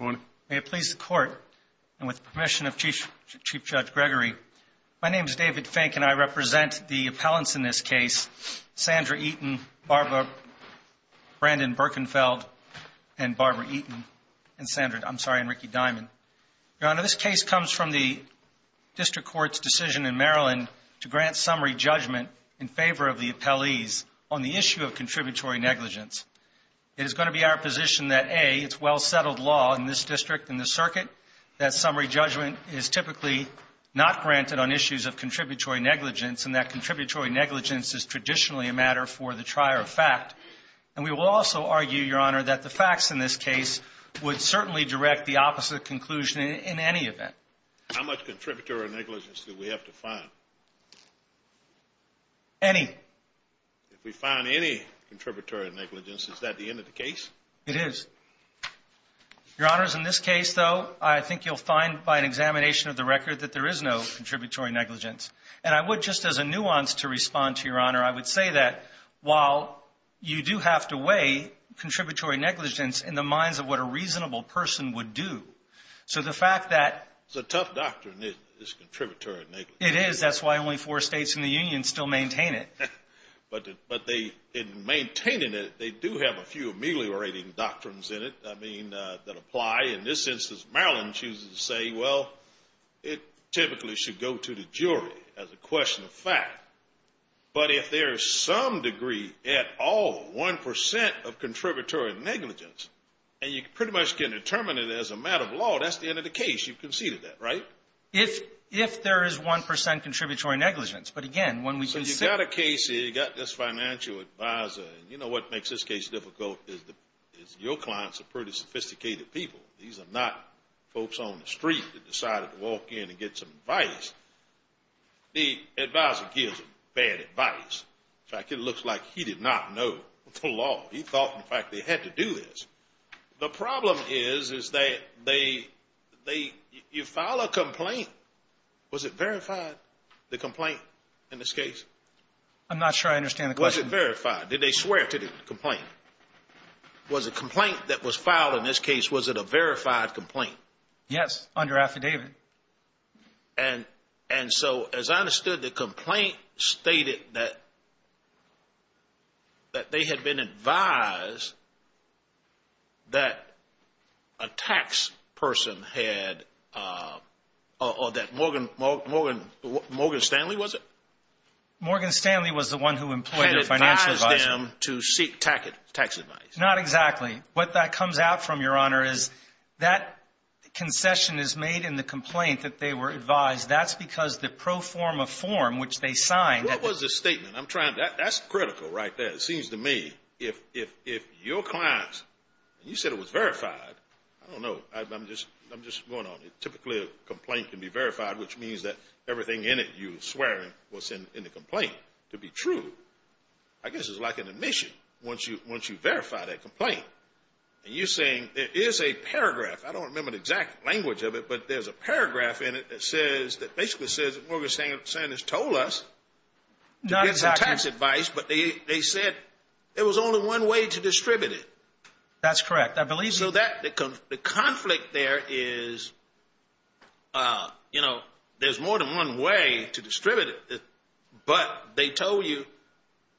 May it please the Court, and with permission of Chief Judge Gregory, my name is David Fink, and I represent the appellants in this case, Sandra Eaton, Barbara Brandon Berkenfeld, and Barbara Eaton, and Sandra, I'm sorry, and Ricky Diamond. Your Honor, this case comes from the District Court's decision in Maryland to grant summary judgment in favor of the appellees on the issue of contributory negligence. It is going to be our position that A, it's well-settled law in this district, in this circuit, that summary judgment is typically not granted on issues of contributory negligence, and that contributory negligence is traditionally a matter for the trier of fact. And we will also argue, Your Honor, that the facts in this case would certainly direct the opposite conclusion in any event. How much contributory negligence do we have to find? Any. If we find any contributory negligence, is that the end of the case? It is. Your Honors, in this case, though, I think you'll find by an examination of the record that there is no contributory negligence. And I would, just as a nuance to respond to Your Honor, I would say that while you do have to weigh contributory negligence in the minds of what a reasonable person would do, so the fact that. It's a tough doctrine, this contributory negligence. It is. That's why only four states in the Union still maintain it. But they, in maintaining it, they do have a few ameliorating doctrines in it, I mean, that apply. In this instance, Maryland chooses to say, well, it typically should go to the jury as a question of fact. But if there is some degree at all, 1 percent of contributory negligence, and you pretty much can determine it as a matter of law, that's the end of the case. You've conceded that, right? If there is 1 percent contributory negligence. So you've got a case here, you've got this financial advisor, and you know what makes this case difficult is your clients are pretty sophisticated people. These are not folks on the street that decided to walk in and get some advice. The advisor gives them bad advice. In fact, it looks like he did not know the law. He thought, in fact, they had to do this. The problem is, is that they, you file a complaint. Was it verified, the complaint? In this case? I'm not sure I understand the question. Was it verified? Did they swear to the complaint? Was the complaint that was filed in this case, was it a verified complaint? Yes, under affidavit. And so, as I understood, the complaint stated that they had been advised that a tax person had, or that Morgan Stanley, was it? Morgan Stanley was the one who employed a financial advisor. Advised them to seek tax advice. Not exactly. What that comes out from, Your Honor, is that concession is made in the complaint that they were advised. That's because the pro forma form, which they signed. What was the statement? I'm trying to, that's critical right there. It seems to me, if your clients, and you said it was verified, I don't know, I'm just going on. Typically, a complaint can be verified, which means that everything in it you're swearing was in the complaint to be true. I guess it's like an admission, once you verify that complaint. And you're saying, it is a paragraph. I don't remember the exact language of it, but there's a paragraph in it that basically says that Morgan Stanley told us to get some tax advice. But they said there was only one way to distribute it. That's correct, I believe. So that, the conflict there is, you know, there's more than one way to distribute it. But they told you,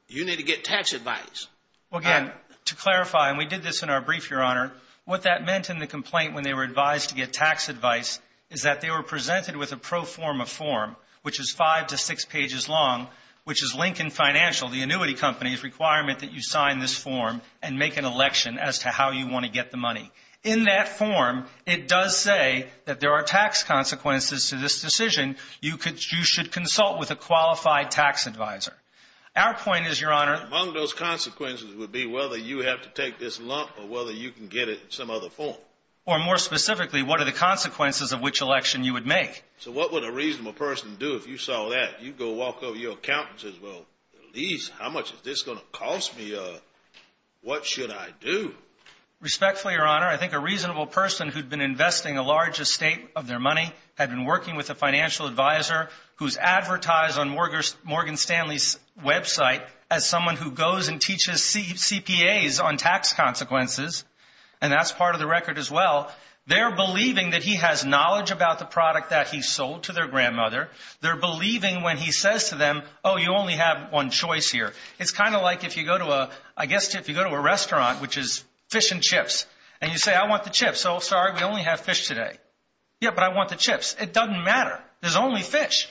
you need to get tax advice. Again, to clarify, and we did this in our brief, Your Honor. What that meant in the complaint when they were advised to get tax advice is that they were presented with a pro forma form, which is five to six pages long, which is Lincoln Financial, the annuity company's requirement that you sign this form and make an election as to how you want to get the money. In that form, it does say that there are tax consequences to this decision. You should consult with a qualified tax advisor. Our point is, Your Honor. Among those consequences would be whether you have to take this lump or whether you can get it in some other form. Or more specifically, what are the consequences of which election you would make? So what would a reasonable person do if you saw that? You'd go walk over to your accountant and say, well, at least how much is this going to cost me? What should I do? Respectfully, Your Honor, I think a reasonable person who'd been investing a large estate of their money had been working with a financial advisor who's advertised on Morgan Stanley's website as someone who goes and teaches CPAs on tax consequences, and that's part of the record as well. They're believing that he has knowledge about the product that he sold to their grandmother. They're believing when he says to them, oh, you only have one choice here. It's kind of like if you go to a restaurant, which is fish and chips, and you say, I want the chips. Oh, sorry, we only have fish today. Yeah, but I want the chips. It doesn't matter. There's only fish.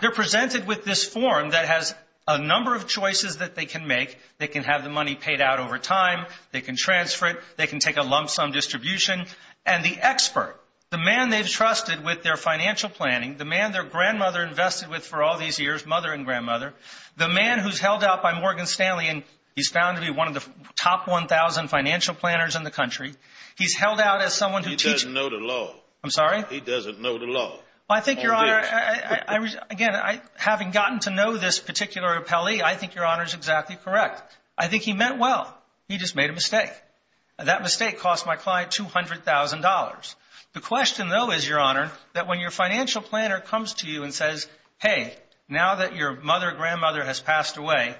They're presented with this form that has a number of choices that they can make. They can have the money paid out over time. They can transfer it. They can take a lump sum distribution. And the expert, the man they've trusted with their financial planning, the man their grandmother invested with for all these years, mother and grandmother, the man who's held out by Morgan Stanley, and he's found to be one of the top 1,000 financial planners in the country, he's held out as someone who teaches. He doesn't know the law. I'm sorry? He doesn't know the law. I think, Your Honor, again, having gotten to know this particular appellee, I think Your Honor is exactly correct. I think he meant well. He just made a mistake. That mistake cost my client $200,000. The question, though, is, Your Honor, that when your financial planner comes to you and says, hey, now that your mother or grandmother has passed away,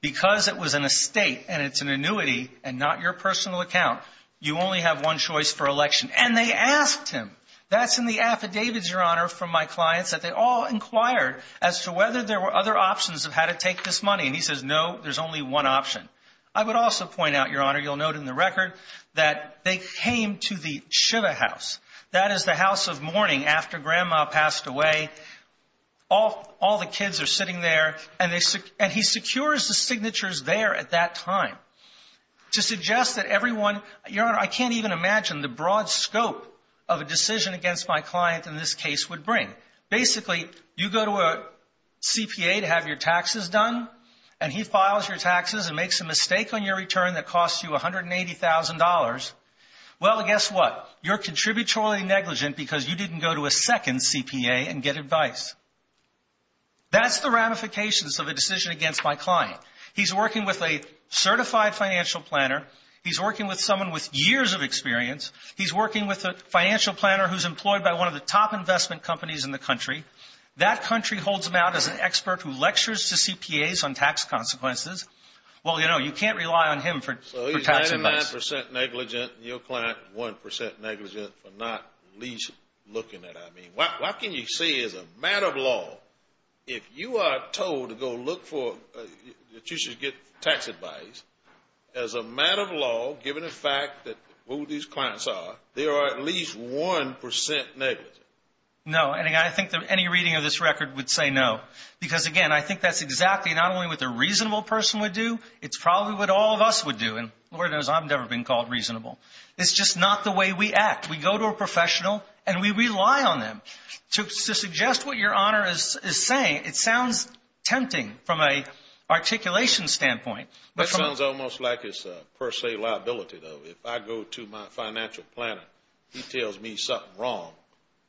because it was an estate and it's an annuity and not your personal account, you only have one choice for election. And they asked him. That's in the affidavits, Your Honor, from my clients that they all inquired as to whether there were other options of how to take this money. And he says, no, there's only one option. I would also point out, Your Honor, you'll note in the record, that they came to the Shiva House. That is the house of mourning after grandma passed away. All the kids are sitting there. And he secures the signatures there at that time to suggest that everyone, Your Honor, I can't even imagine the broad scope of a decision against my client in this case would bring. Basically, you go to a CPA to have your taxes done, and he files your taxes and makes a mistake on your return that costs you $180,000. Well, guess what? You're contributory negligent because you didn't go to a second CPA and get advice. That's the ramifications of a decision against my client. He's working with a certified financial planner. He's working with someone with years of experience. He's working with a financial planner who's employed by one of the top investment companies in the country. That country holds him out as an expert who lectures to CPAs on tax consequences. Well, you know, you can't rely on him for tax advice. 99% negligent, and your client 1% negligent for not at least looking at it. I mean, what can you say as a matter of law, if you are told to go look for, that you should get tax advice, as a matter of law, given the fact that who these clients are, they are at least 1% negligent? No, and I think that any reading of this record would say no. Because, again, I think that's exactly not only what the reasonable person would do. It's probably what all of us would do. And Lord knows I've never been called reasonable. It's just not the way we act. We go to a professional, and we rely on them. To suggest what Your Honor is saying, it sounds tempting from an articulation standpoint. That sounds almost like it's a per se liability, though. If I go to my financial planner, he tells me something wrong,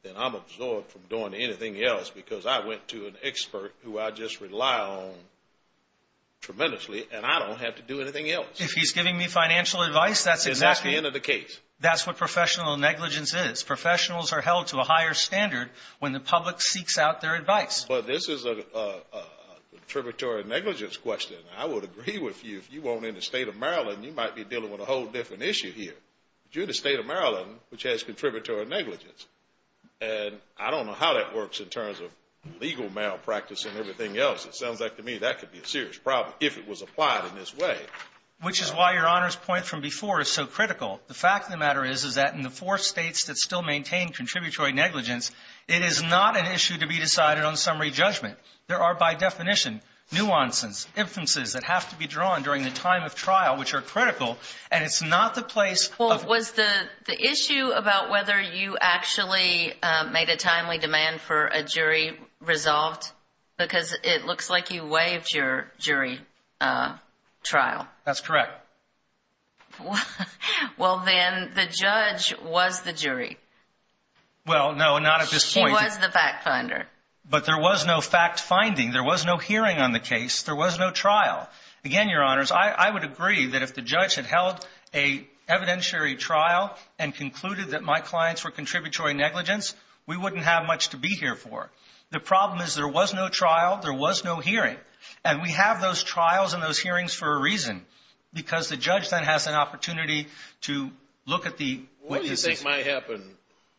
then I'm absorbed from doing anything else. Because I went to an expert who I just rely on tremendously, and I don't have to do anything else. If he's giving me financial advice, that's exactly. And that's the end of the case. That's what professional negligence is. Professionals are held to a higher standard when the public seeks out their advice. But this is a contributory negligence question. I would agree with you, if you weren't in the State of Maryland, you might be dealing with a whole different issue here. But you're in the State of Maryland, which has contributory negligence. And I don't know how that works in terms of legal malpractice and everything else. It sounds like to me that could be a serious problem, if it was applied in this way. Which is why Your Honor's point from before is so critical. The fact of the matter is, is that in the four states that still maintain contributory negligence, it is not an issue to be decided on summary judgment. There are, by definition, nuances, inferences that have to be drawn during the time of trial, which are critical. And it's not the place of ---- Was the issue about whether you actually made a timely demand for a jury resolved? Because it looks like you waived your jury trial. That's correct. Well, then the judge was the jury. Well, no, not at this point. She was the fact finder. But there was no fact finding. There was no hearing on the case. There was no trial. Again, Your Honors, I would agree that if the judge had held an evidentiary trial and concluded that my clients were contributory negligence, we wouldn't have much to be here for. The problem is there was no trial. There was no hearing. And we have those trials and those hearings for a reason. Because the judge then has an opportunity to look at the witnesses. What do you think might happen,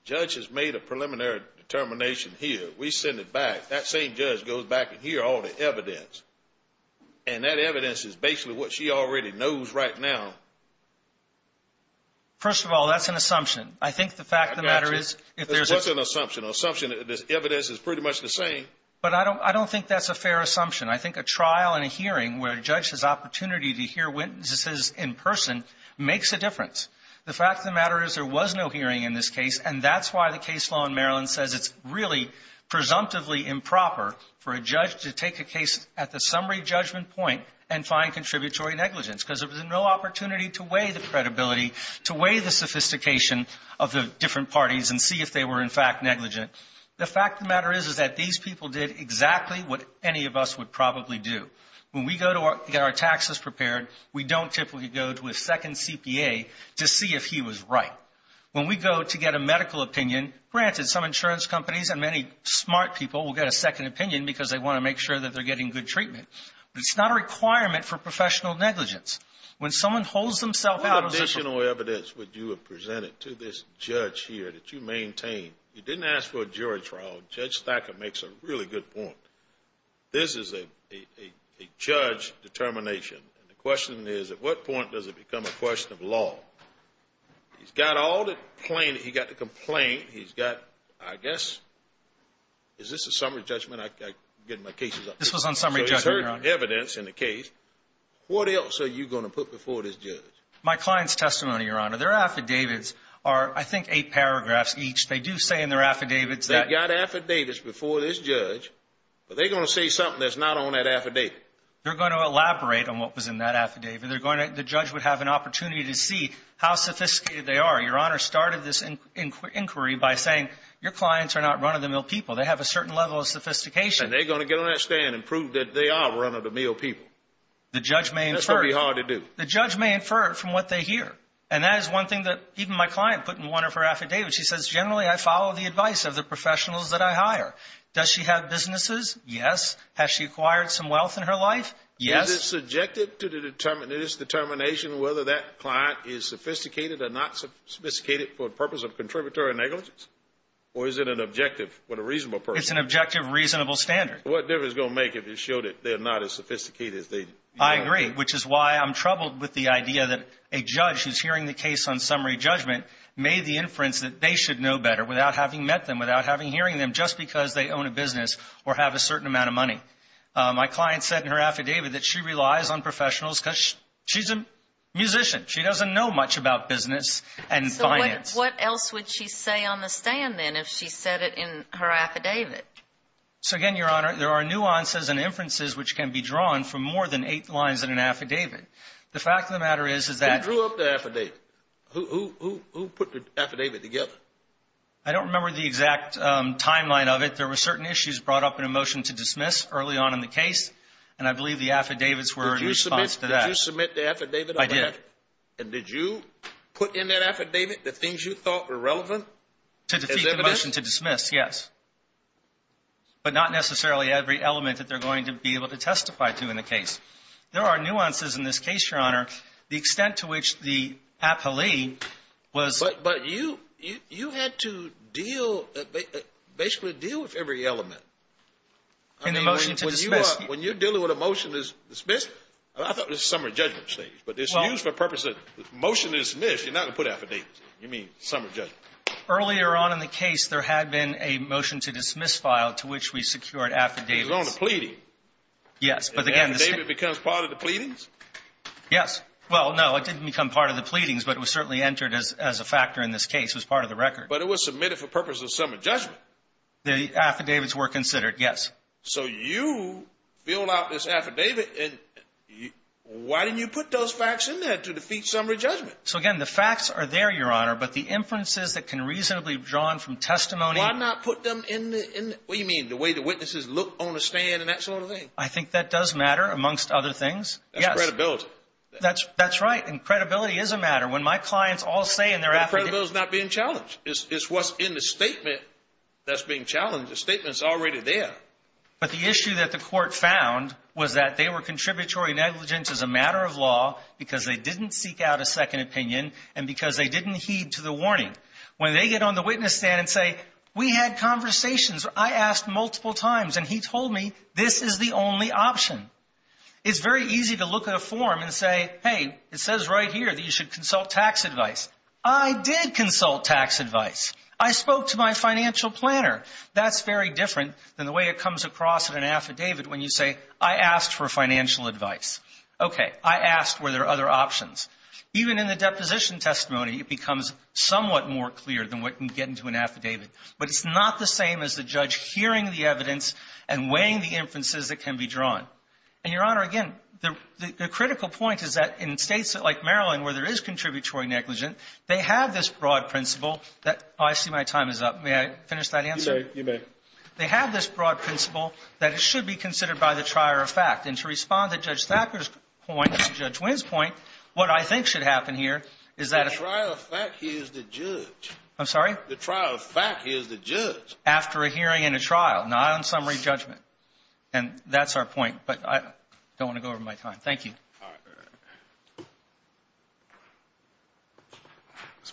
judge has made a preliminary determination here. We send it back. That same judge goes back and hears all the evidence. And that evidence is basically what she already knows right now. First of all, that's an assumption. I think the fact of the matter is ---- What's an assumption? An assumption that this evidence is pretty much the same. But I don't think that's a fair assumption. I think a trial and a hearing where a judge has opportunity to hear witnesses in person makes a difference. The fact of the matter is there was no hearing in this case. And that's why the case law in Maryland says it's really presumptively improper for a judge to take a case at the summary judgment point and find contributory negligence. Because there was no opportunity to weigh the credibility, to weigh the sophistication of the different parties and see if they were in fact negligent. The fact of the matter is that these people did exactly what any of us would probably do. When we go to get our taxes prepared, we don't typically go to a second CPA to see if he was right. When we go to get a medical opinion, granted, some insurance companies and many smart people will get a second opinion because they want to make sure that they're getting good treatment. But it's not a requirement for professional negligence. When someone holds themselves out ---- What additional evidence would you have presented to this judge here that you maintain? You didn't ask for a jury trial. Judge Thacker makes a really good point. This is a judge determination. And the question is at what point does it become a question of law? He's got all the plaintiffs. He's got the complaint. He's got, I guess, is this a summary judgment? I'm getting my cases up here. This was on summary judgment, Your Honor. So there's evidence in the case. What else are you going to put before this judge? My client's testimony, Your Honor. Their affidavits are, I think, eight paragraphs each. They do say in their affidavits that ---- They've got affidavits before this judge, but they're going to say something that's not on that affidavit. They're going to elaborate on what was in that affidavit. The judge would have an opportunity to see how sophisticated they are. Your Honor started this inquiry by saying your clients are not run-of-the-mill people. They have a certain level of sophistication. And they're going to get on that stand and prove that they are run-of-the-mill people. That's going to be hard to do. The judge may infer from what they hear. And that is one thing that even my client put in one of her affidavits. She says generally I follow the advice of the professionals that I hire. Does she have businesses? Yes. Has she acquired some wealth in her life? Yes. Is it subjected to this determination whether that client is sophisticated or not sophisticated for the purpose of contributory negligence? Or is it an objective with a reasonable person? It's an objective reasonable standard. What difference is it going to make if it's shown that they're not as sophisticated as they ---- I agree, which is why I'm troubled with the idea that a judge who's hearing the case on summary judgment made the inference that they should know better without having met them, without having hearing them, just because they own a business or have a certain amount of money. My client said in her affidavit that she relies on professionals because she's a musician. She doesn't know much about business and finance. So what else would she say on the stand then if she said it in her affidavit? So, again, Your Honor, there are nuances and inferences which can be drawn from more than eight lines in an affidavit. The fact of the matter is that ---- Who drew up the affidavit? Who put the affidavit together? I don't remember the exact timeline of it. There were certain issues brought up in a motion to dismiss early on in the case, and I believe the affidavits were in response to that. Did you submit the affidavit? I did. And did you put in that affidavit the things you thought were relevant? To defeat the motion to dismiss, yes. But not necessarily every element that they're going to be able to testify to in the case. There are nuances in this case, Your Honor. The extent to which the appellee was ---- But you had to deal, basically deal with every element. In the motion to dismiss. When you're dealing with a motion to dismiss, I thought this was a summary judgment stage, but it's used for purposes of motion to dismiss. You're not going to put affidavits in. You mean summary judgment. Earlier on in the case, there had been a motion to dismiss file to which we secured affidavits. It was on the pleading. Yes. And then the affidavit becomes part of the pleadings? Yes. Well, no, it didn't become part of the pleadings, but it was certainly entered as a factor in this case. It was part of the record. But it was submitted for purposes of summary judgment. The affidavits were considered, yes. So you filled out this affidavit, and why didn't you put those facts in there to defeat summary judgment? So, again, the facts are there, Your Honor, but the inferences that can reasonably be drawn from testimony ---- Why not put them in the ---- What do you mean, the way the witnesses look on the stand and that sort of thing? I think that does matter, amongst other things. That's credibility. That's right, and credibility is a matter. When my clients all say in their affidavits ---- But credibility is not being challenged. It's what's in the statement that's being challenged. The statement's already there. But the issue that the court found was that they were contributory negligence as a matter of law because they didn't seek out a second opinion and because they didn't heed to the warning. When they get on the witness stand and say, we had conversations, I asked multiple times, and he told me this is the only option. It's very easy to look at a form and say, hey, it says right here that you should consult tax advice. I did consult tax advice. I spoke to my financial planner. That's very different than the way it comes across in an affidavit when you say, I asked for financial advice. Okay, I asked were there other options. Even in the deposition testimony, it becomes somewhat more clear than what can get into an affidavit, but it's not the same as the judge hearing the evidence and weighing the inferences that can be drawn. And, Your Honor, again, the critical point is that in States like Maryland where there is contributory negligence, they have this broad principle that ---- I see my time is up. May I finish that answer? You may. They have this broad principle that it should be considered by the trier of fact. And to respond to Judge Thacker's point, to Judge Wynn's point, what I think should happen here is that if ---- The trier of fact is the judge. I'm sorry? The trier of fact is the judge. After a hearing and a trial, not on summary judgment. And that's our point. But I don't want to go over my time. Thank you. All right.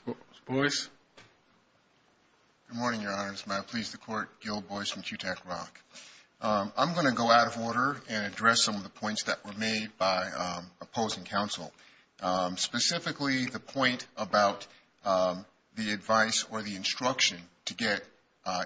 All right. Mr. Boyce. Good morning, Your Honor. This is Matt Please, the Court, Gil Boyce from QTAC-ROC. I'm going to go out of order and address some of the points that were made by opposing counsel, specifically the point about the advice or the instruction to get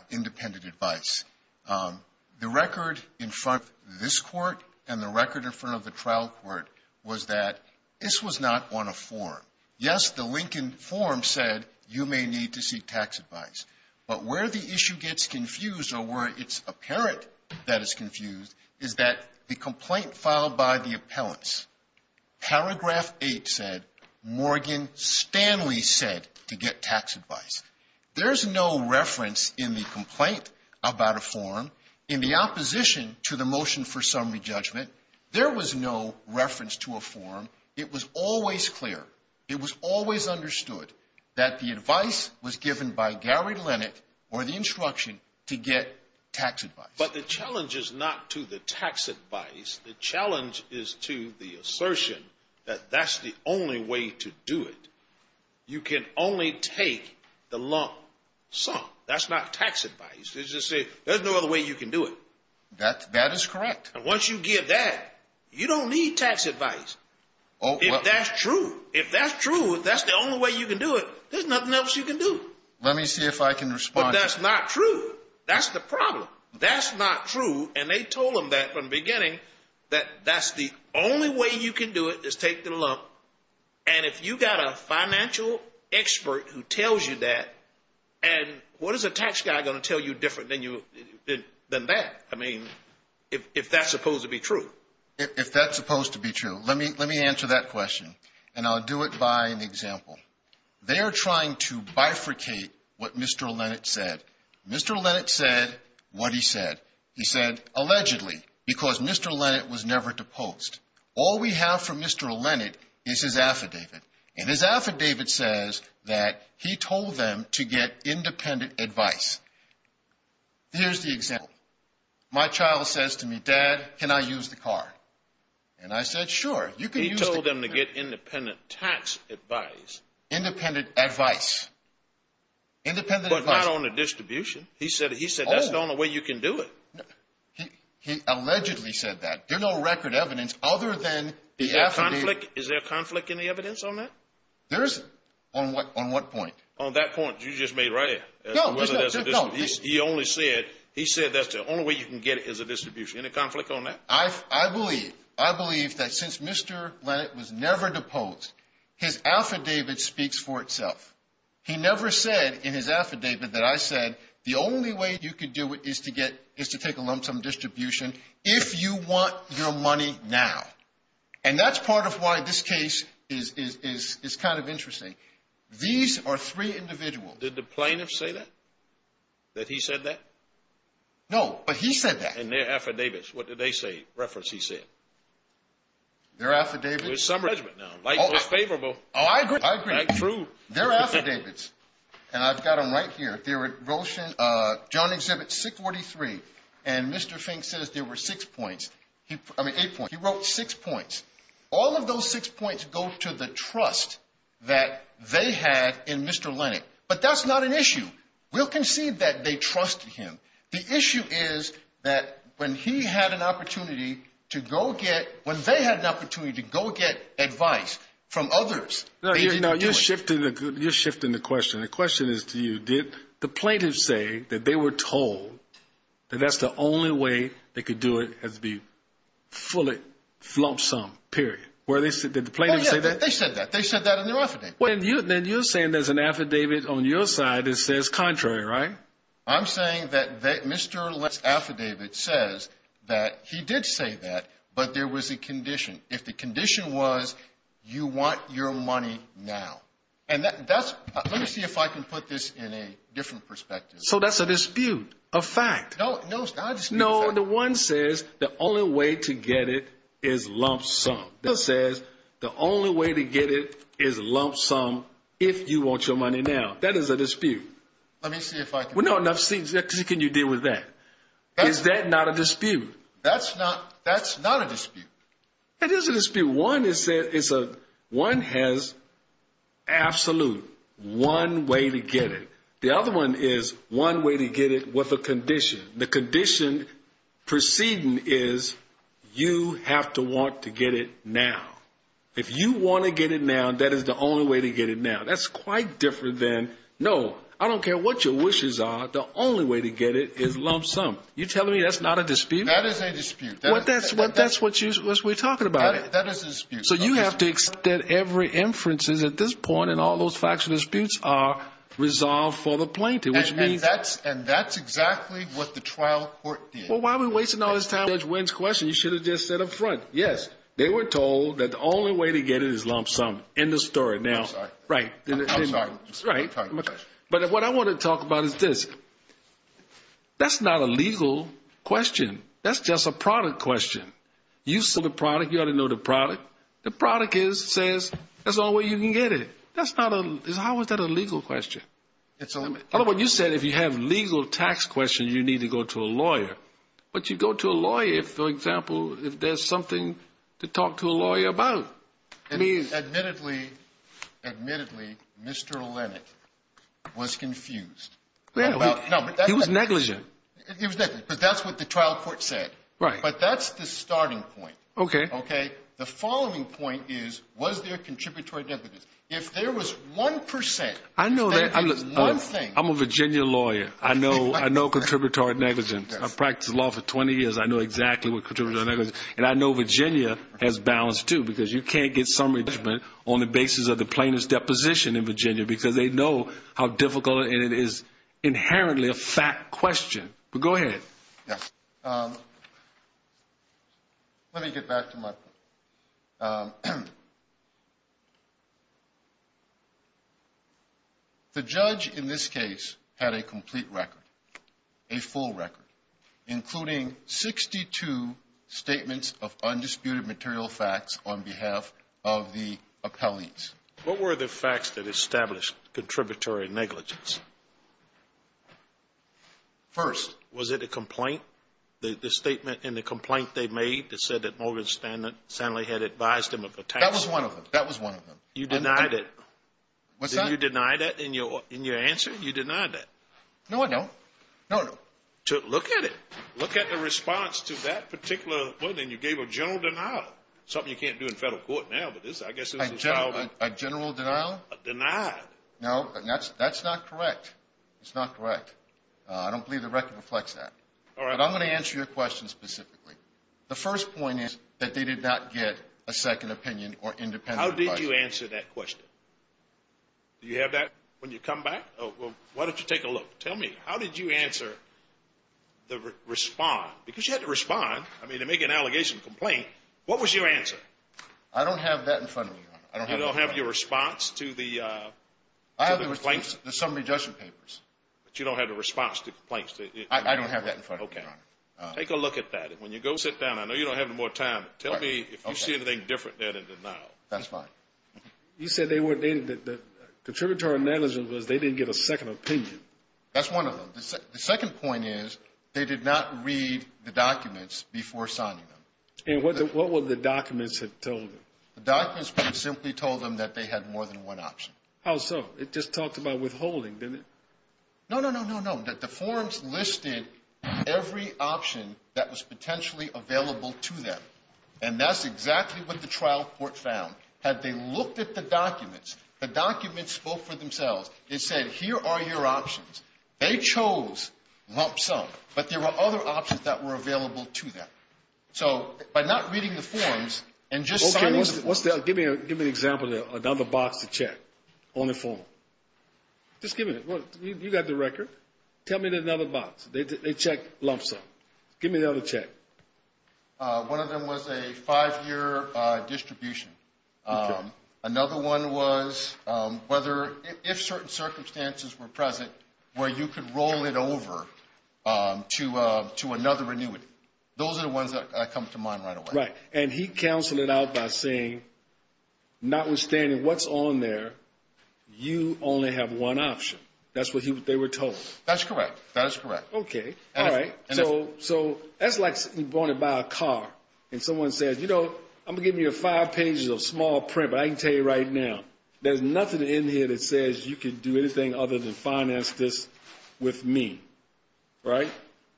independent advice. The record in front of this Court and the record in front of the trial court was that this was not on a form. Yes, the Lincoln form said you may need to seek tax advice. But where the issue gets confused or where it's apparent that it's confused is that the complaint filed by the appellants, paragraph 8 said Morgan Stanley said to get tax advice. There's no reference in the complaint about a form. In the opposition to the motion for summary judgment, there was no reference to a form. It was always clear. It was always understood that the advice was given by Gary Lennett or the instruction to get tax advice. But the challenge is not to the tax advice. The challenge is to the assertion that that's the only way to do it. You can only take the lump sum. That's not tax advice. There's no other way you can do it. That is correct. Once you get that, you don't need tax advice. If that's true, if that's true, if that's the only way you can do it, there's nothing else you can do. Let me see if I can respond. But that's not true. That's the problem. That's not true, and they told them that from the beginning, that that's the only way you can do it is take the lump. And if you've got a financial expert who tells you that, and what is a tax guy going to tell you different than that? I mean, if that's supposed to be true. If that's supposed to be true, let me answer that question, and I'll do it by an example. They are trying to bifurcate what Mr. Lennett said. Mr. Lennett said what he said. He said, allegedly, because Mr. Lennett was never deposed. All we have from Mr. Lennett is his affidavit, and his affidavit says that he told them to get independent advice. Here's the example. My child says to me, Dad, can I use the car? And I said, sure, you can use the car. He told them to get independent tax advice. Independent advice. But not on the distribution. He said that's the only way you can do it. He allegedly said that. There's no record evidence other than the affidavit. Is there conflict in the evidence on that? There isn't. On what point? On that point you just made right here. No, there's not. He only said, he said that's the only way you can get it is a distribution. Any conflict on that? I believe, I believe that since Mr. Lennett was never deposed, his affidavit speaks for itself. He never said in his affidavit that I said the only way you can do it is to take a lump sum distribution if you want your money now. And that's part of why this case is kind of interesting. These are three individuals. Did the plaintiff say that? That he said that? No, but he said that. And their affidavits, what did they say? Reference he said. Their affidavits? There's some judgment now. Life is favorable. Oh, I agree, I agree. That's true. Their affidavits, and I've got them right here. John Exhibit 643, and Mr. Fink says there were six points. I mean, eight points. He wrote six points. All of those six points go to the trust that they had in Mr. Lennett. But that's not an issue. We'll concede that they trusted him. The issue is that when he had an opportunity to go get, when they had an opportunity to go get advice from others, they didn't do it. You're shifting the question. The question is to you, did the plaintiff say that they were told that that's the only way they could do it, has to be fully lump sum, period? Did the plaintiff say that? Oh, yeah, they said that. They said that in their affidavit. Then you're saying there's an affidavit on your side that says contrary, right? I'm saying that Mr. Lennett's affidavit says that he did say that, but there was a condition. If the condition was you want your money now. And let me see if I can put this in a different perspective. So that's a dispute, a fact. No, I just mean a fact. No, the one says the only way to get it is lump sum. That says the only way to get it is lump sum if you want your money now. That is a dispute. Let me see if I can put this in a different perspective. Well, no, enough seats. How can you deal with that? Is that not a dispute? That's not a dispute. It is a dispute. One has absolute, one way to get it. The other one is one way to get it with a condition. The condition preceding is you have to want to get it now. If you want to get it now, that is the only way to get it now. That's quite different than, no, I don't care what your wishes are. The only way to get it is lump sum. You're telling me that's not a dispute? That is a dispute. That's what we're talking about. That is a dispute. So you have to extend every inferences at this point, and all those facts and disputes are resolved for the plaintiff. And that's exactly what the trial court did. Well, why are we wasting all this time on Judge Wynn's question? You should have just said up front, yes, they were told that the only way to get it is lump sum. End of story. I'm sorry. I'm sorry. But what I want to talk about is this. That's not a legal question. That's just a product question. You sold the product. You ought to know the product. The product says that's the only way you can get it. How is that a legal question? I don't know what you said. If you have legal tax questions, you need to go to a lawyer. But you go to a lawyer, for example, if there's something to talk to a lawyer about. Admittedly, Mr. Lennon was confused. He was negligent. He was negligent, because that's what the trial court said. Right. But that's the starting point. Okay. Okay? The following point is, was there contributory negligence? If there was one percent, if there was one thing. I'm a Virginia lawyer. I know contributory negligence. I've practiced law for 20 years. I know exactly what contributory negligence is. And I know Virginia has balance, too, because you can't get summary judgment on the basis of the plaintiff's deposition in Virginia, because they know how difficult and it is inherently a fact question. But go ahead. Yes. Let me get back to my point. The judge in this case had a complete record, a full record, including 62 statements of undisputed material facts on behalf of the appellees. What were the facts that established contributory negligence? First. Was it a complaint? The statement in the complaint they made that said that Morgan Stanley had advised him of attacks? That was one of them. That was one of them. You denied it. What's that? Did you deny that in your answer? You denied that. No, I don't. No, I don't. Look at it. Look at the response to that particular one, and you gave a general denial, something you can't do in federal court now. A general denial? Denied. No, that's not correct. It's not correct. I don't believe the record reflects that. All right. But I'm going to answer your question specifically. The first point is that they did not get a second opinion or independent advice. How did you answer that question? Do you have that when you come back? Why don't you take a look? Tell me, how did you answer the respond? Because you had to respond. I mean, to make an allegation complaint, what was your answer? I don't have that in front of me, Your Honor. You don't have your response to the complaint? I have the summary judgment papers. But you don't have the response to complaints? I don't have that in front of me, Your Honor. Okay. Take a look at that, and when you go sit down, I know you don't have any more time, but tell me if you see anything different there than the denial. That's fine. You said the contributory negligence was they didn't get a second opinion. That's one of them. The second point is they did not read the documents before signing them. And what would the documents have told them? The documents would have simply told them that they had more than one option. How so? It just talked about withholding, didn't it? No, no, no, no, no. The forms listed every option that was potentially available to them, and that's exactly what the trial court found. Had they looked at the documents, the documents spoke for themselves. It said, here are your options. They chose lump sum, but there were other options that were available to them. So by not reading the forms and just signing the forms. Okay, give me an example of another box to check on the form. Just give me one. You've got the record. Tell me another box. They checked lump sum. Give me another check. One of them was a five-year distribution. Another one was whether, if certain circumstances were present, where you could roll it over to another annuity. Those are the ones that come to mind right away. Right. And he counseled it out by saying, notwithstanding what's on there, you only have one option. That's what they were told. That's correct. That is correct. Okay. All right. So that's like you're going to buy a car and someone says, you know, I'm going to give you five pages of small print, but I can tell you right now, there's nothing in here that says you can do anything other than finance this with me. Right?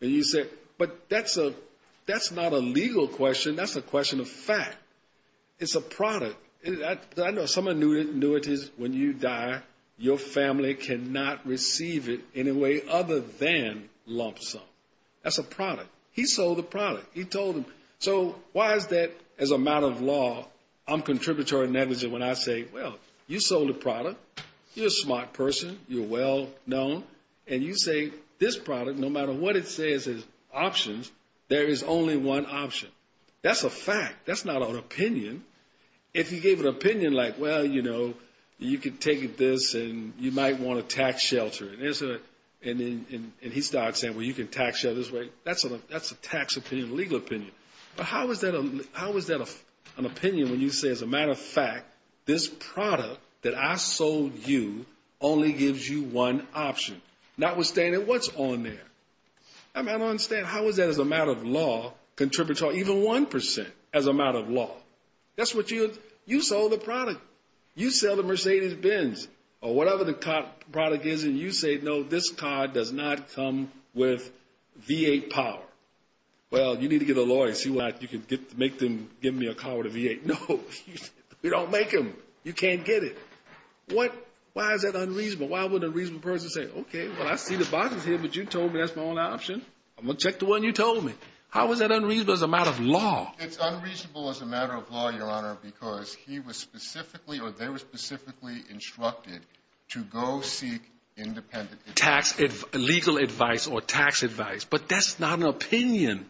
And you say, but that's not a legal question. That's a question of fact. It's a product. I know some annuities, when you die, your family cannot receive it in a way other than lump sum. That's a product. He sold the product. He told them. So why is that, as a matter of law, I'm contributory negligent when I say, well, you sold a product, you're a smart person, you're well-known, and you say this product, no matter what it says as options, there is only one option. That's a fact. That's not an opinion. If he gave an opinion like, well, you know, you can take this and you might want to tax shelter it. And he starts saying, well, you can tax shelter this way. That's a tax opinion, legal opinion. But how is that an opinion when you say, as a matter of fact, this product that I sold you only gives you one option, notwithstanding what's on there? I don't understand. How is that, as a matter of law, even 1% as a matter of law? You sold the product. You sell the Mercedes-Benz or whatever the product is, and you say, no, this car does not come with V8 power. Well, you need to get a lawyer and see what you can do to make them give me a car with a V8. No, we don't make them. You can't get it. Why is that unreasonable? Why would a reasonable person say, okay, well, I see the boxes here, but you told me that's my only option. I'm going to check the one you told me. How is that unreasonable as a matter of law? It's unreasonable as a matter of law, Your Honor, because he was specifically, or they were specifically, instructed to go seek independent legal advice or tax advice. But that's not an opinion.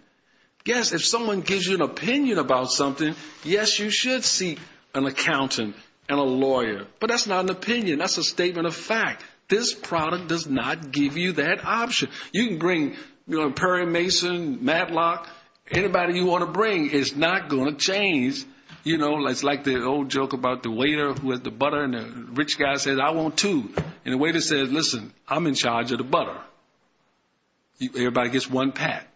Yes, if someone gives you an opinion about something, yes, you should seek an accountant and a lawyer. But that's not an opinion. That's a statement of fact. This product does not give you that option. You can bring Perry Mason, Matlock, anybody you want to bring is not going to change. It's like the old joke about the waiter who had the butter, and the rich guy said, I want two. And the waiter says, listen, I'm in charge of the butter. Everybody gets one pack.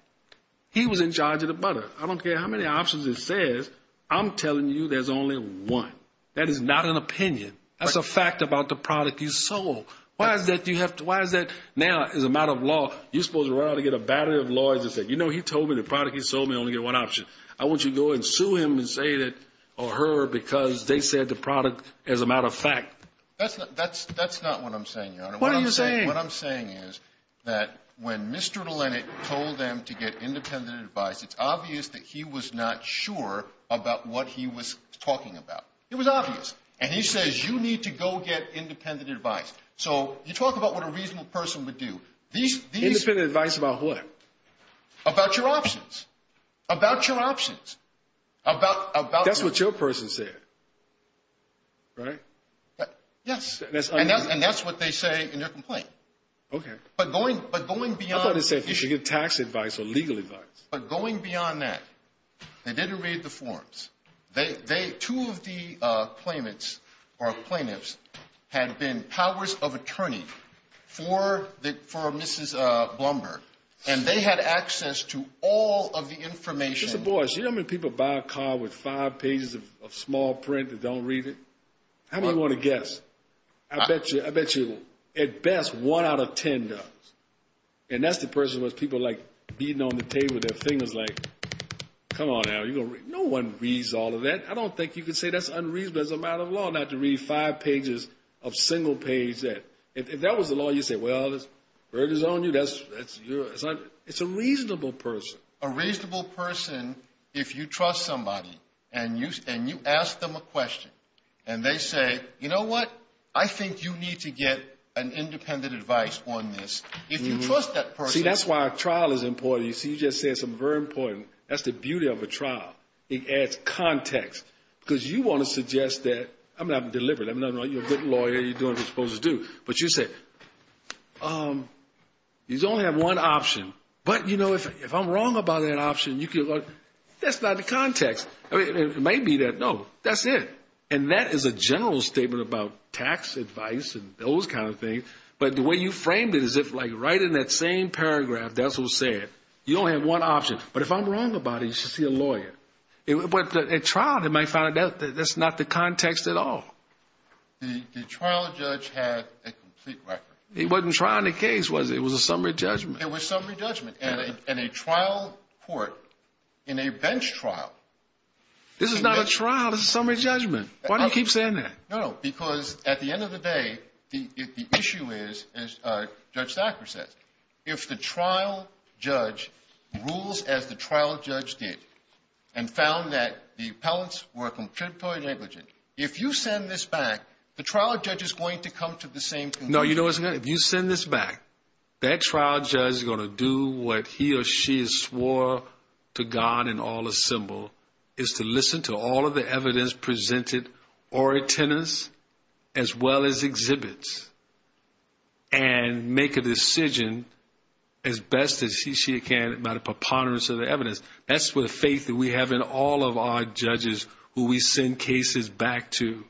He was in charge of the butter. I don't care how many options it says, I'm telling you there's only one. That is not an opinion. That's a fact about the product you sold. Why is that now, as a matter of law, you're supposed to run out and get a battery of lawyers and say, you know, he told me the product he sold me, I only get one option. I want you to go and sue him and say that, or her, because they said the product, as a matter of fact. That's not what I'm saying, Your Honor. What are you saying? What I'm saying is that when Mr. Lennon told them to get independent advice, it's obvious that he was not sure about what he was talking about. It was obvious. And he says, you need to go get independent advice. So you talk about what a reasonable person would do. Independent advice about what? About your options. About your options. That's what your person said, right? Yes. And that's what they say in their complaint. Okay. But going beyond. I thought it said you should get tax advice or legal advice. But going beyond that, they didn't read the forms. Two of the claimants, or plaintiffs, had been powers of attorney for Mrs. Blumberg. And they had access to all of the information. You know how many people buy a car with five pages of small print and don't read it? How many want to guess? I bet you, at best, one out of ten does. And that's the person where people are like beating on the table with their fingers like, Come on, Al. No one reads all of that. I don't think you can say that's unreasonable. That's a matter of law not to read five pages of single page. If that was the law, you'd say, well, there's burgers on you. It's a reasonable person. A reasonable person, if you trust somebody and you ask them a question, and they say, you know what? I think you need to get an independent advice on this. If you trust that person. See, that's why a trial is important. You see, you just said something very important. That's the beauty of a trial. It adds context. Because you want to suggest that you're a good lawyer, you're doing what you're supposed to do. But you say, you only have one option. But, you know, if I'm wrong about that option, that's not the context. It may be that, no, that's it. And that is a general statement about tax advice and those kind of things. But the way you framed it as if, like, right in that same paragraph, that's what was said. You only have one option. But if I'm wrong about it, you should see a lawyer. But at trial, they might find out that that's not the context at all. The trial judge had a complete record. It wasn't trial in the case, was it? It was a summary judgment. It was summary judgment. And a trial court in a bench trial. This is not a trial. This is summary judgment. Why do you keep saying that? No, because at the end of the day, the issue is, as Judge Thacker says, if the trial judge rules as the trial judge did and found that the appellants were contributory negligent, if you send this back, the trial judge is going to come to the same conclusion. No, you know what's going to happen? If you send this back, that trial judge is going to do what he or she has swore to God in all his symbol, is to listen to all of the evidence presented or attendance as well as exhibits and make a decision as best as he or she can about a preponderance of the evidence. That's the faith that we have in all of our judges who we send cases back to.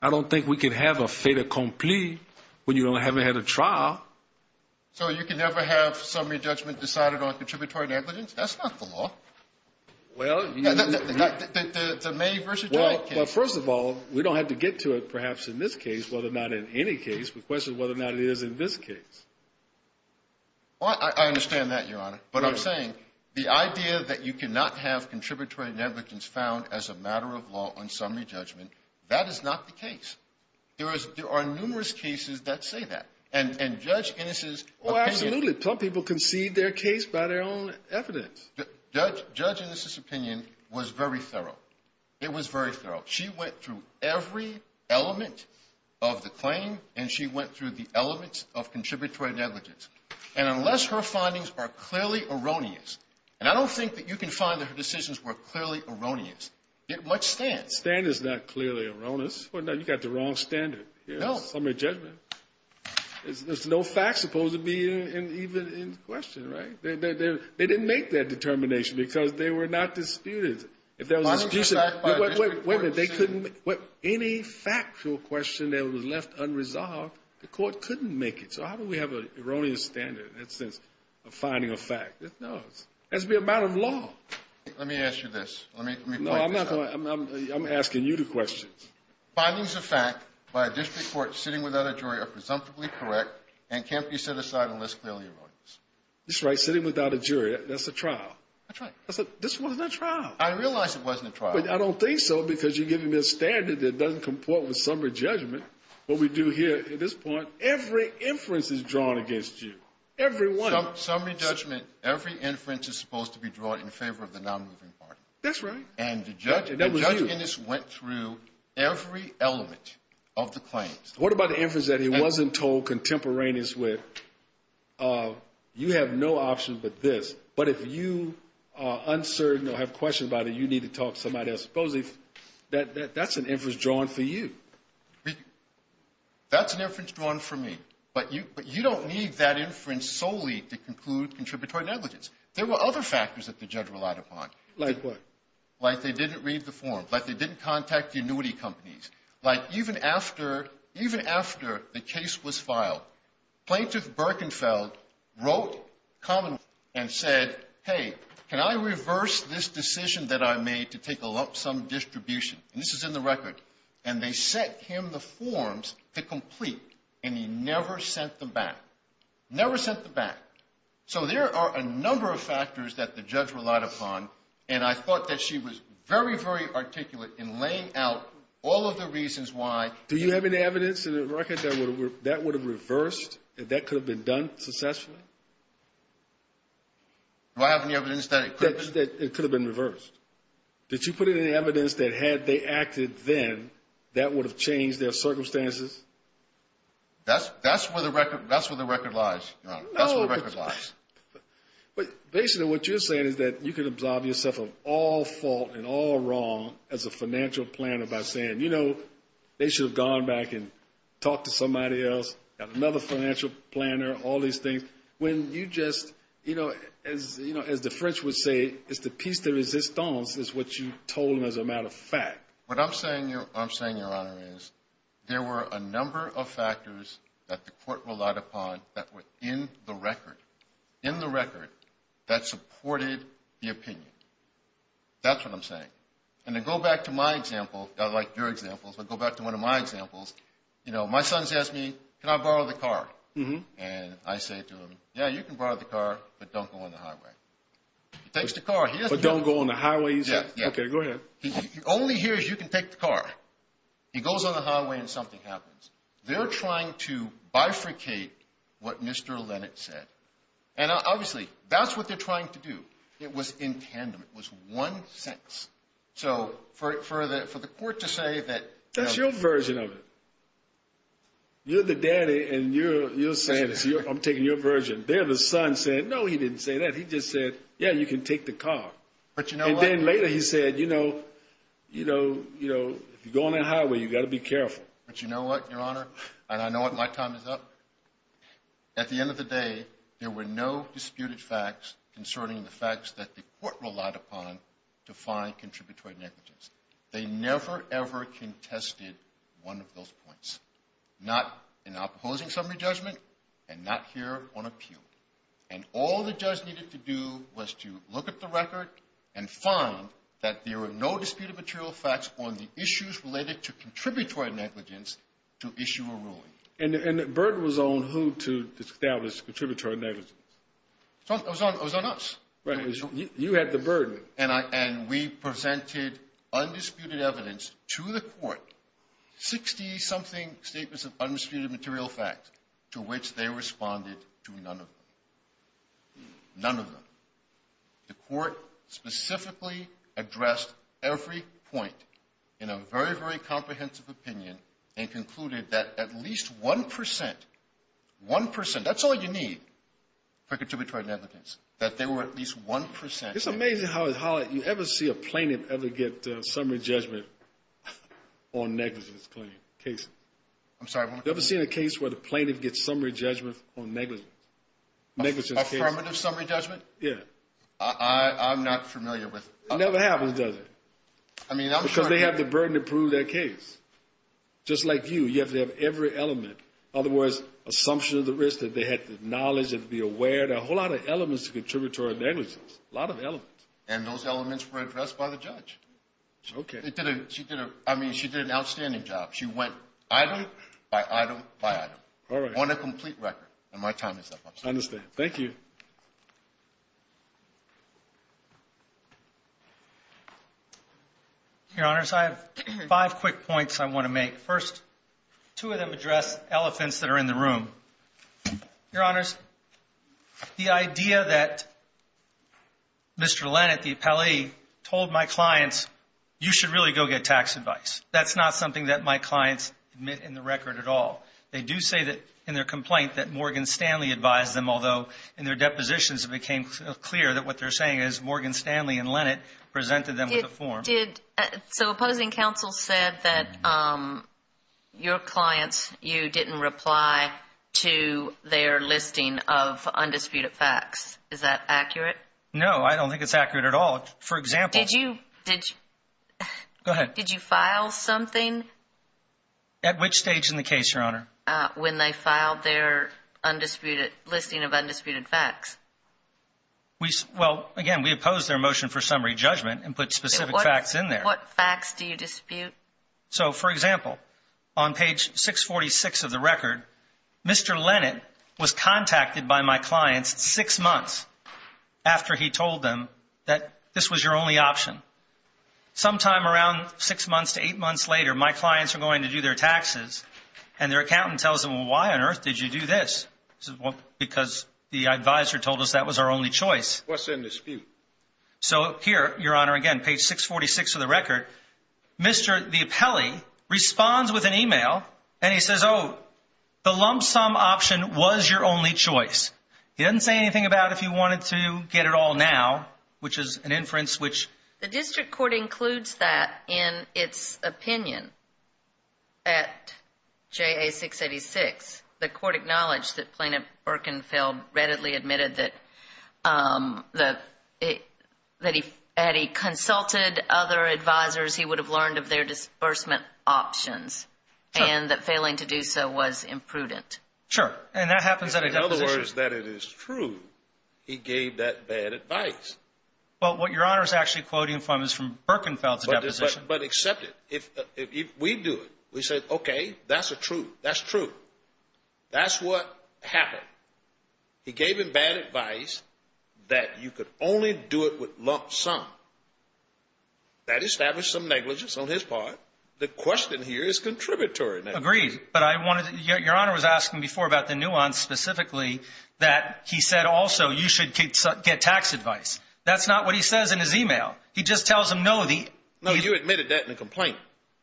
I don't think we can have a fait accompli when you don't have a head of trial. So you can never have summary judgment decided on contributory negligence? That's not the law. Well, you know. The May versus July case. Well, first of all, we don't have to get to it perhaps in this case, whether or not in any case. The question is whether or not it is in this case. I understand that, Your Honor. But I'm saying the idea that you cannot have contributory negligence found as a matter of law on summary judgment, that is not the case. There are numerous cases that say that. And Judge Ennis's opinion. Well, absolutely. Some people concede their case by their own evidence. Judge Ennis's opinion was very thorough. It was very thorough. She went through every element of the claim, and she went through the elements of contributory negligence. And unless her findings are clearly erroneous, and I don't think that you can find that her decisions were clearly erroneous, yet much stand. Stand is not clearly erroneous. You've got the wrong standard. No. Summary judgment. There's no fact supposed to be even in question, right? They didn't make that determination because they were not disputed. If there was a dispute, any factual question that was left unresolved, the court couldn't make it. So how do we have an erroneous standard in that sense of finding a fact? No. That's a matter of law. Let me ask you this. Let me point this out. No, I'm not going to. I'm asking you the question. Findings of fact by a district court sitting without a jury are presumptively correct and can't be set aside unless clearly erroneous. That's right. Sitting without a jury. That's a trial. That's right. This wasn't a trial. I realize it wasn't a trial. But I don't think so because you're giving me a standard that doesn't comport with summary judgment. What we do here at this point, every inference is drawn against you. Every one. Summary judgment, every inference is supposed to be drawn in favor of the nonmoving part. That's right. And the judge in this went through every element of the claims. What about the inference that he wasn't told contemporaneous with, you have no option but this. But if you are uncertain or have questions about it, you need to talk to somebody else. Supposedly that's an inference drawn for you. That's an inference drawn for me. But you don't need that inference solely to conclude contributory negligence. There were other factors that the judge relied upon. Like what? Like they didn't read the form. Like they didn't contact the annuity companies. Like even after the case was filed, Plaintiff Birkenfeld wrote Commonwealth and said, hey, can I reverse this decision that I made to take a lump sum distribution? And this is in the record. And they sent him the forms to complete, and he never sent them back. Never sent them back. So there are a number of factors that the judge relied upon, and I thought that she was very, very articulate in laying out all of the reasons why. Do you have any evidence in the record that that would have reversed, that that could have been done successfully? Do I have any evidence that it could have been reversed? Did you put in any evidence that had they acted then, that would have changed their circumstances? That's where the record lies. That's where the record lies. But basically what you're saying is that you can absolve yourself of all fault and all wrong as a financial planner by saying, you know, they should have gone back and talked to somebody else, another financial planner, all these things, when you just, you know, as the French would say, it's the piece de resistance is what you told them as a matter of fact. What I'm saying, Your Honor, is there were a number of factors that the court relied upon that were in the record, in the record, that supported the opinion. That's what I'm saying. And to go back to my example, I like your examples, but go back to one of my examples, you know, my son's asked me, can I borrow the car? And I say to him, yeah, you can borrow the car, but don't go on the highway. He takes the car. But don't go on the highways? Yeah. Okay, go ahead. All he hears, you can take the car. He goes on the highway and something happens. They're trying to bifurcate what Mr. Lennett said. And obviously, that's what they're trying to do. It was in tandem. It was one sentence. So for the court to say that. That's your version of it. You're the daddy and you're saying, I'm taking your version. There the son said, no, he didn't say that. He just said, yeah, you can take the car. But you know what? And then later he said, you know, if you go on the highway, you've got to be careful. But you know what, Your Honor? And I know my time is up. At the end of the day, there were no disputed facts concerning the facts that the court relied upon to find contributory negligence. They never, ever contested one of those points. Not in opposing summary judgment and not here on appeal. And all the judge needed to do was to look at the record and find that there were no disputed material facts on the issues related to contributory negligence to issue a ruling. And the burden was on who to establish contributory negligence. It was on us. You had the burden. And we presented undisputed evidence to the court, 60-something statements of undisputed material facts, to which they responded to none of them. None of them. The court specifically addressed every point in a very, very comprehensive opinion and concluded that at least 1 percent, 1 percent, that's all you need for contributory negligence, that there were at least 1 percent. It's amazing how you ever see a plaintiff ever get summary judgment on negligence claim cases. I'm sorry, what? You ever seen a case where the plaintiff gets summary judgment on negligence? Affirmative summary judgment? Yeah. I'm not familiar with it. It never happens, does it? I mean, I'm sure it happens. Because they have the burden to prove their case. Just like you, you have to have every element. In other words, assumption of the risk, that they had the knowledge and to be aware. There are a whole lot of elements to contributory negligence. A lot of elements. And those elements were addressed by the judge. Okay. She did an outstanding job. She went item by item by item. All right. On a complete record. And my time is up. I understand. Thank you. Your Honors, I have five quick points I want to make. First, two of them address elephants that are in the room. Your Honors, the idea that Mr. Lennet, the appellee, told my clients, you should really go get tax advice. That's not something that my clients admit in the record at all. They do say that in their complaint that Morgan Stanley advised them, although in their depositions it became clear that what they're saying is Morgan Stanley and Lennet presented them with a form. So opposing counsel said that your clients, you didn't reply to their listing of undisputed facts. Is that accurate? No, I don't think it's accurate at all. For example, Did you file something? At which stage in the case, Your Honor? When they filed their listing of undisputed facts. Well, again, we opposed their motion for summary judgment and put specific facts in there. What facts do you dispute? So, for example, on page 646 of the record, Mr. Lennet was contacted by my clients six months after he told them that this was your only option. Sometime around six months to eight months later, my clients are going to do their taxes and their accountant tells them, well, why on earth did you do this? Because the advisor told us that was our only choice. What's in dispute? So here, Your Honor, again, page 646 of the record, Mr. DiAppelli responds with an email and he says, oh, the lump sum option was your only choice. He didn't say anything about if you wanted to get it all now, which is an inference which. The district court includes that in its opinion at JA 686. The court acknowledged that Plaintiff Birkenfeld readily admitted that he had consulted other advisors he would have learned of their disbursement options and that failing to do so was imprudent. Sure. And that happens at a deposition. In other words, that it is true he gave that bad advice. Well, what Your Honor is actually quoting from is from Birkenfeld's deposition. But accept it. If we do it, we say, okay, that's a truth. That's true. That's what happened. He gave him bad advice that you could only do it with lump sum. That established some negligence on his part. The question here is contributory. Agreed. But Your Honor was asking before about the nuance specifically that he said also you should get tax advice. That's not what he says in his email. He just tells him no. No, you admitted that in a complaint.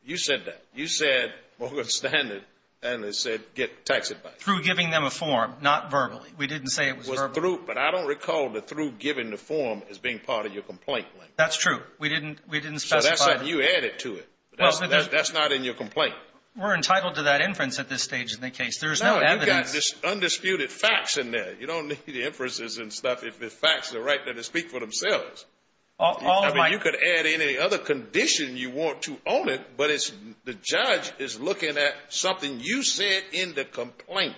You said that. You said what was standard and it said get tax advice. Through giving them a form, not verbally. We didn't say it was verbal. It was through, but I don't recall the through giving the form as being part of your complaint. That's true. We didn't specify. So that's something you added to it. That's not in your complaint. We're entitled to that inference at this stage in the case. There's no evidence. No, you've got this undisputed facts in there. You don't need the inferences and stuff if the facts are right there to speak for themselves. All of my. You could add any other condition you want to own it, but the judge is looking at something you said in the complaint.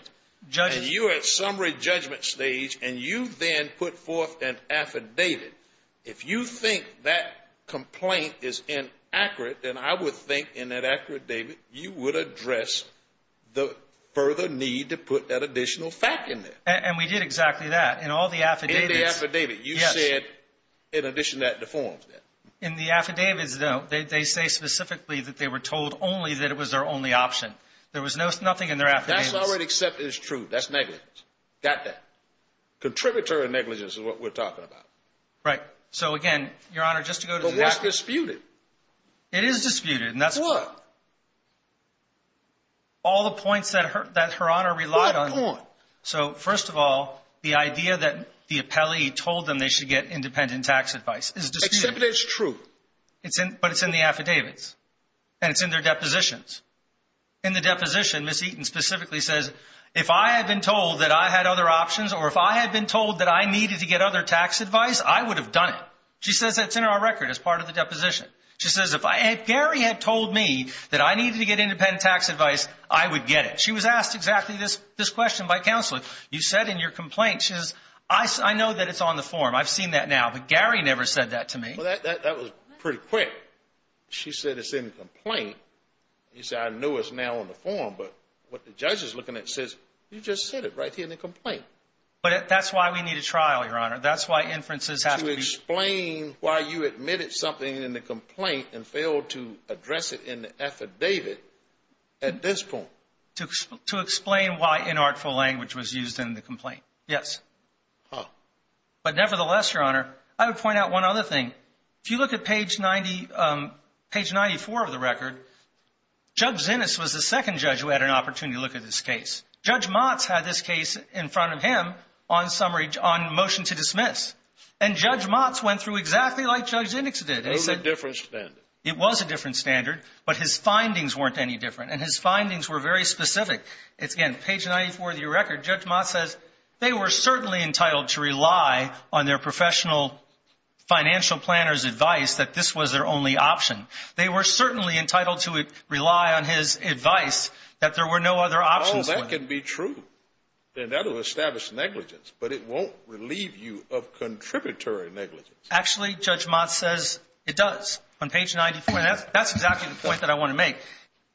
Judges. And you're at summary judgment stage and you then put forth an affidavit. If you think that complaint is inaccurate, then I would think in that affidavit you would address the further need to put that additional fact in there. And we did exactly that in all the affidavits. In the affidavit. Yes. In addition to the forms. In the affidavits, though, they say specifically that they were told only that it was their only option. There was no nothing in there. That's already accepted. It's true. That's negative. Got that contributory negligence is what we're talking about. Right. So, again, Your Honor, just to go to what's disputed. It is disputed. And that's what. All the points that hurt that her honor relied on. So, first of all, the idea that the appellee told them they should get independent tax advice is disputed. Except it's true. But it's in the affidavits. And it's in their depositions. In the deposition, Ms. Eaton specifically says, if I had been told that I had other options or if I had been told that I needed to get other tax advice, I would have done it. She says that's in our record as part of the deposition. She says, if Gary had told me that I needed to get independent tax advice, I would get it. She was asked exactly this question by counsel. You said in your complaint, she says, I know that it's on the form. I've seen that now. But Gary never said that to me. Well, that was pretty quick. She said it's in the complaint. You say, I know it's now on the form. But what the judge is looking at says, you just said it right here in the complaint. But that's why we need a trial, Your Honor. That's why inferences have to be. To explain why you admitted something in the complaint and failed to address it in the affidavit at this point. To explain why inartful language was used in the complaint. Yes. But nevertheless, Your Honor, I would point out one other thing. If you look at page 94 of the record, Judge Zinnis was the second judge who had an opportunity to look at this case. Judge Motz had this case in front of him on motion to dismiss. And Judge Motz went through exactly like Judge Zinnis did. It was a different standard. It was a different standard. But his findings weren't any different. And his findings were very specific. It's, again, page 94 of the record. Judge Motz says they were certainly entitled to rely on their professional financial planner's advice that this was their only option. They were certainly entitled to rely on his advice that there were no other options. No, that can be true. And that will establish negligence. But it won't relieve you of contributory negligence. Actually, Judge Motz says it does on page 94. And that's exactly the point that I want to make.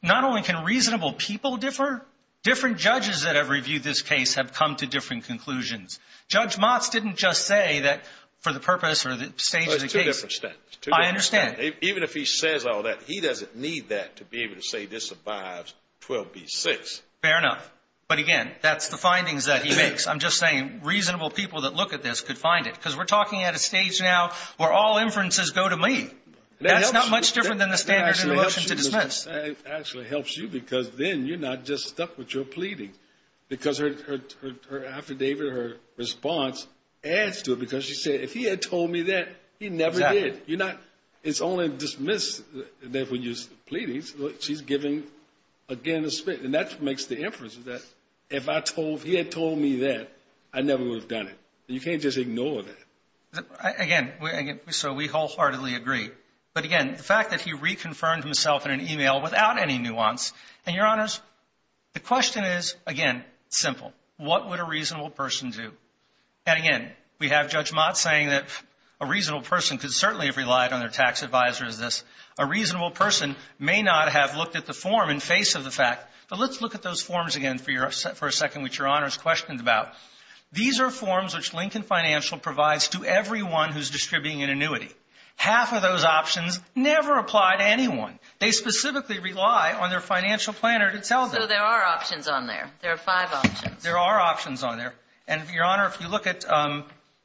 Not only can reasonable people differ, different judges that have reviewed this case have come to different conclusions. Judge Motz didn't just say that for the purpose or the stage of the case. It's two different standards. I understand. Even if he says all that, he doesn't need that to be able to say this abides 12B6. Fair enough. But, again, that's the findings that he makes. I'm just saying reasonable people that look at this could find it. Because we're talking at a stage now where all inferences go to me. That's not much different than the standard of an option to dismiss. It actually helps you because then you're not just stuck with your pleading. Because her affidavit or her response adds to it. Because she said, if he had told me that, he never did. Exactly. It's only dismissed when you're pleading. She's giving, again, a spit. And that makes the inference that if he had told me that, I never would have done it. You can't just ignore that. Again, so we wholeheartedly agree. But, again, the fact that he reconfirmed himself in an email without any nuance. And, Your Honors, the question is, again, simple. What would a reasonable person do? And, again, we have Judge Mott saying that a reasonable person could certainly have relied on their tax advisor as this. A reasonable person may not have looked at the form in face of the fact. But let's look at those forms again for a second, which Your Honors questioned about. These are forms which Lincoln Financial provides to everyone who's distributing an annuity. Half of those options never apply to anyone. They specifically rely on their financial planner to tell them. So there are options on there. There are five options. There are options on there. And, Your Honor, if you look at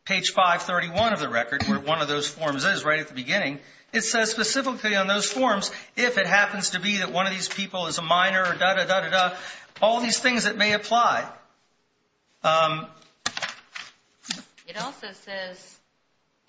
page 531 of the record, where one of those forms is right at the beginning, it says specifically on those forms, if it happens to be that one of these people is a minor or da-da-da-da-da, all these things that may apply. It also says,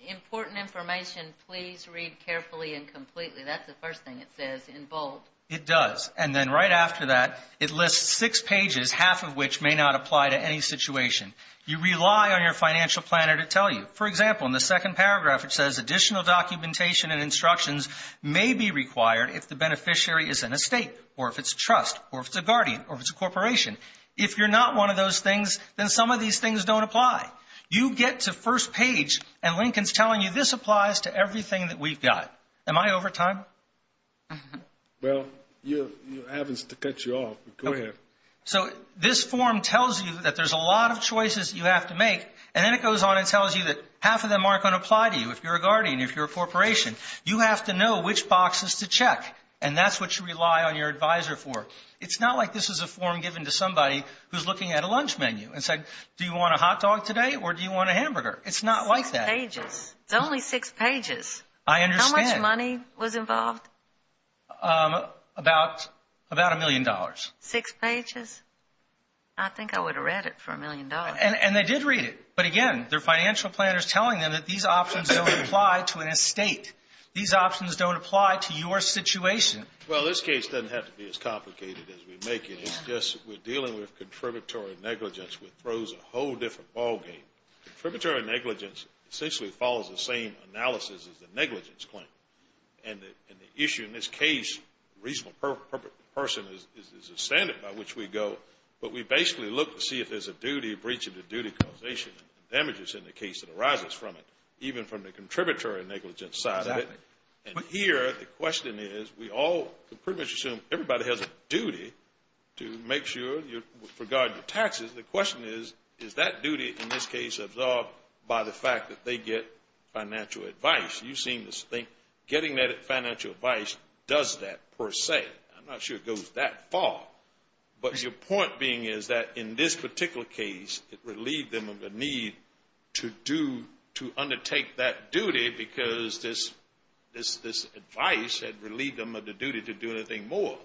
important information, please read carefully and completely. That's the first thing it says in bold. It does. And then right after that, it lists six pages, half of which may not apply to any situation. You rely on your financial planner to tell you. For example, in the second paragraph, it says, additional documentation and instructions may be required if the beneficiary is an estate or if it's a trust or if it's a guardian or if it's a corporation. If you're not one of those things, then some of these things don't apply. You get to first page, and Lincoln's telling you this applies to everything that we've got. Am I over time? Well, you're having to cut you off. Go ahead. So this form tells you that there's a lot of choices you have to make, and then it goes on and tells you that half of them aren't going to apply to you if you're a guardian, if you're a corporation. You have to know which boxes to check, and that's what you rely on your advisor for. It's not like this is a form given to somebody who's looking at a lunch menu and said, do you want a hot dog today or do you want a hamburger? It's not like that. Six pages. It's only six pages. I understand. How much money was involved? About a million dollars. Six pages? I think I would have read it for a million dollars. And they did read it. But, again, they're financial planners telling them that these options don't apply to an estate. These options don't apply to your situation. Well, this case doesn't have to be as complicated as we make it. It's just we're dealing with contributory negligence, which throws a whole different ballgame. Contributory negligence essentially follows the same analysis as the negligence claim. And the issue in this case, reasonable person is a standard by which we go, but we basically look to see if there's a duty breach of the duty causation and damages in the case that arises from it, even from the contributory negligence side of it. And here the question is we all pretty much assume everybody has a duty to make sure you regard your taxes. The question is, is that duty in this case absorbed by the fact that they get financial advice? You seem to think getting that financial advice does that per se. I'm not sure it goes that far. But your point being is that in this particular case it relieved them of the need to undertake that duty because this advice had relieved them of the duty to do anything more.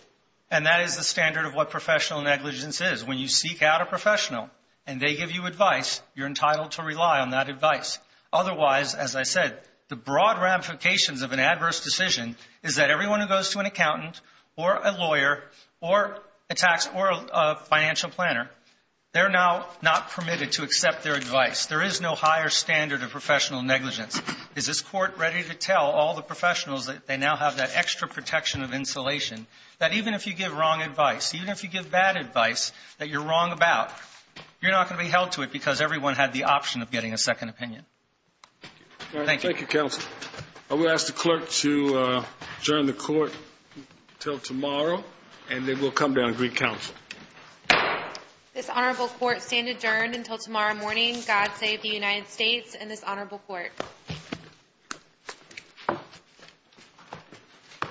And that is the standard of what professional negligence is. When you seek out a professional and they give you advice, you're entitled to rely on that advice. Otherwise, as I said, the broad ramifications of an adverse decision is that everyone who goes to an accountant or a lawyer or a tax or a financial planner, they're now not permitted to accept their advice. There is no higher standard of professional negligence. Is this court ready to tell all the professionals that they now have that extra protection of insulation, that even if you give wrong advice, even if you give bad advice that you're wrong about, you're not going to be held to it because everyone had the option of getting a second opinion? Thank you. Thank you, counsel. I will ask the clerk to adjourn the court until tomorrow, and then we'll come down and greet counsel. This honorable court stand adjourned until tomorrow morning. God save the United States and this honorable court.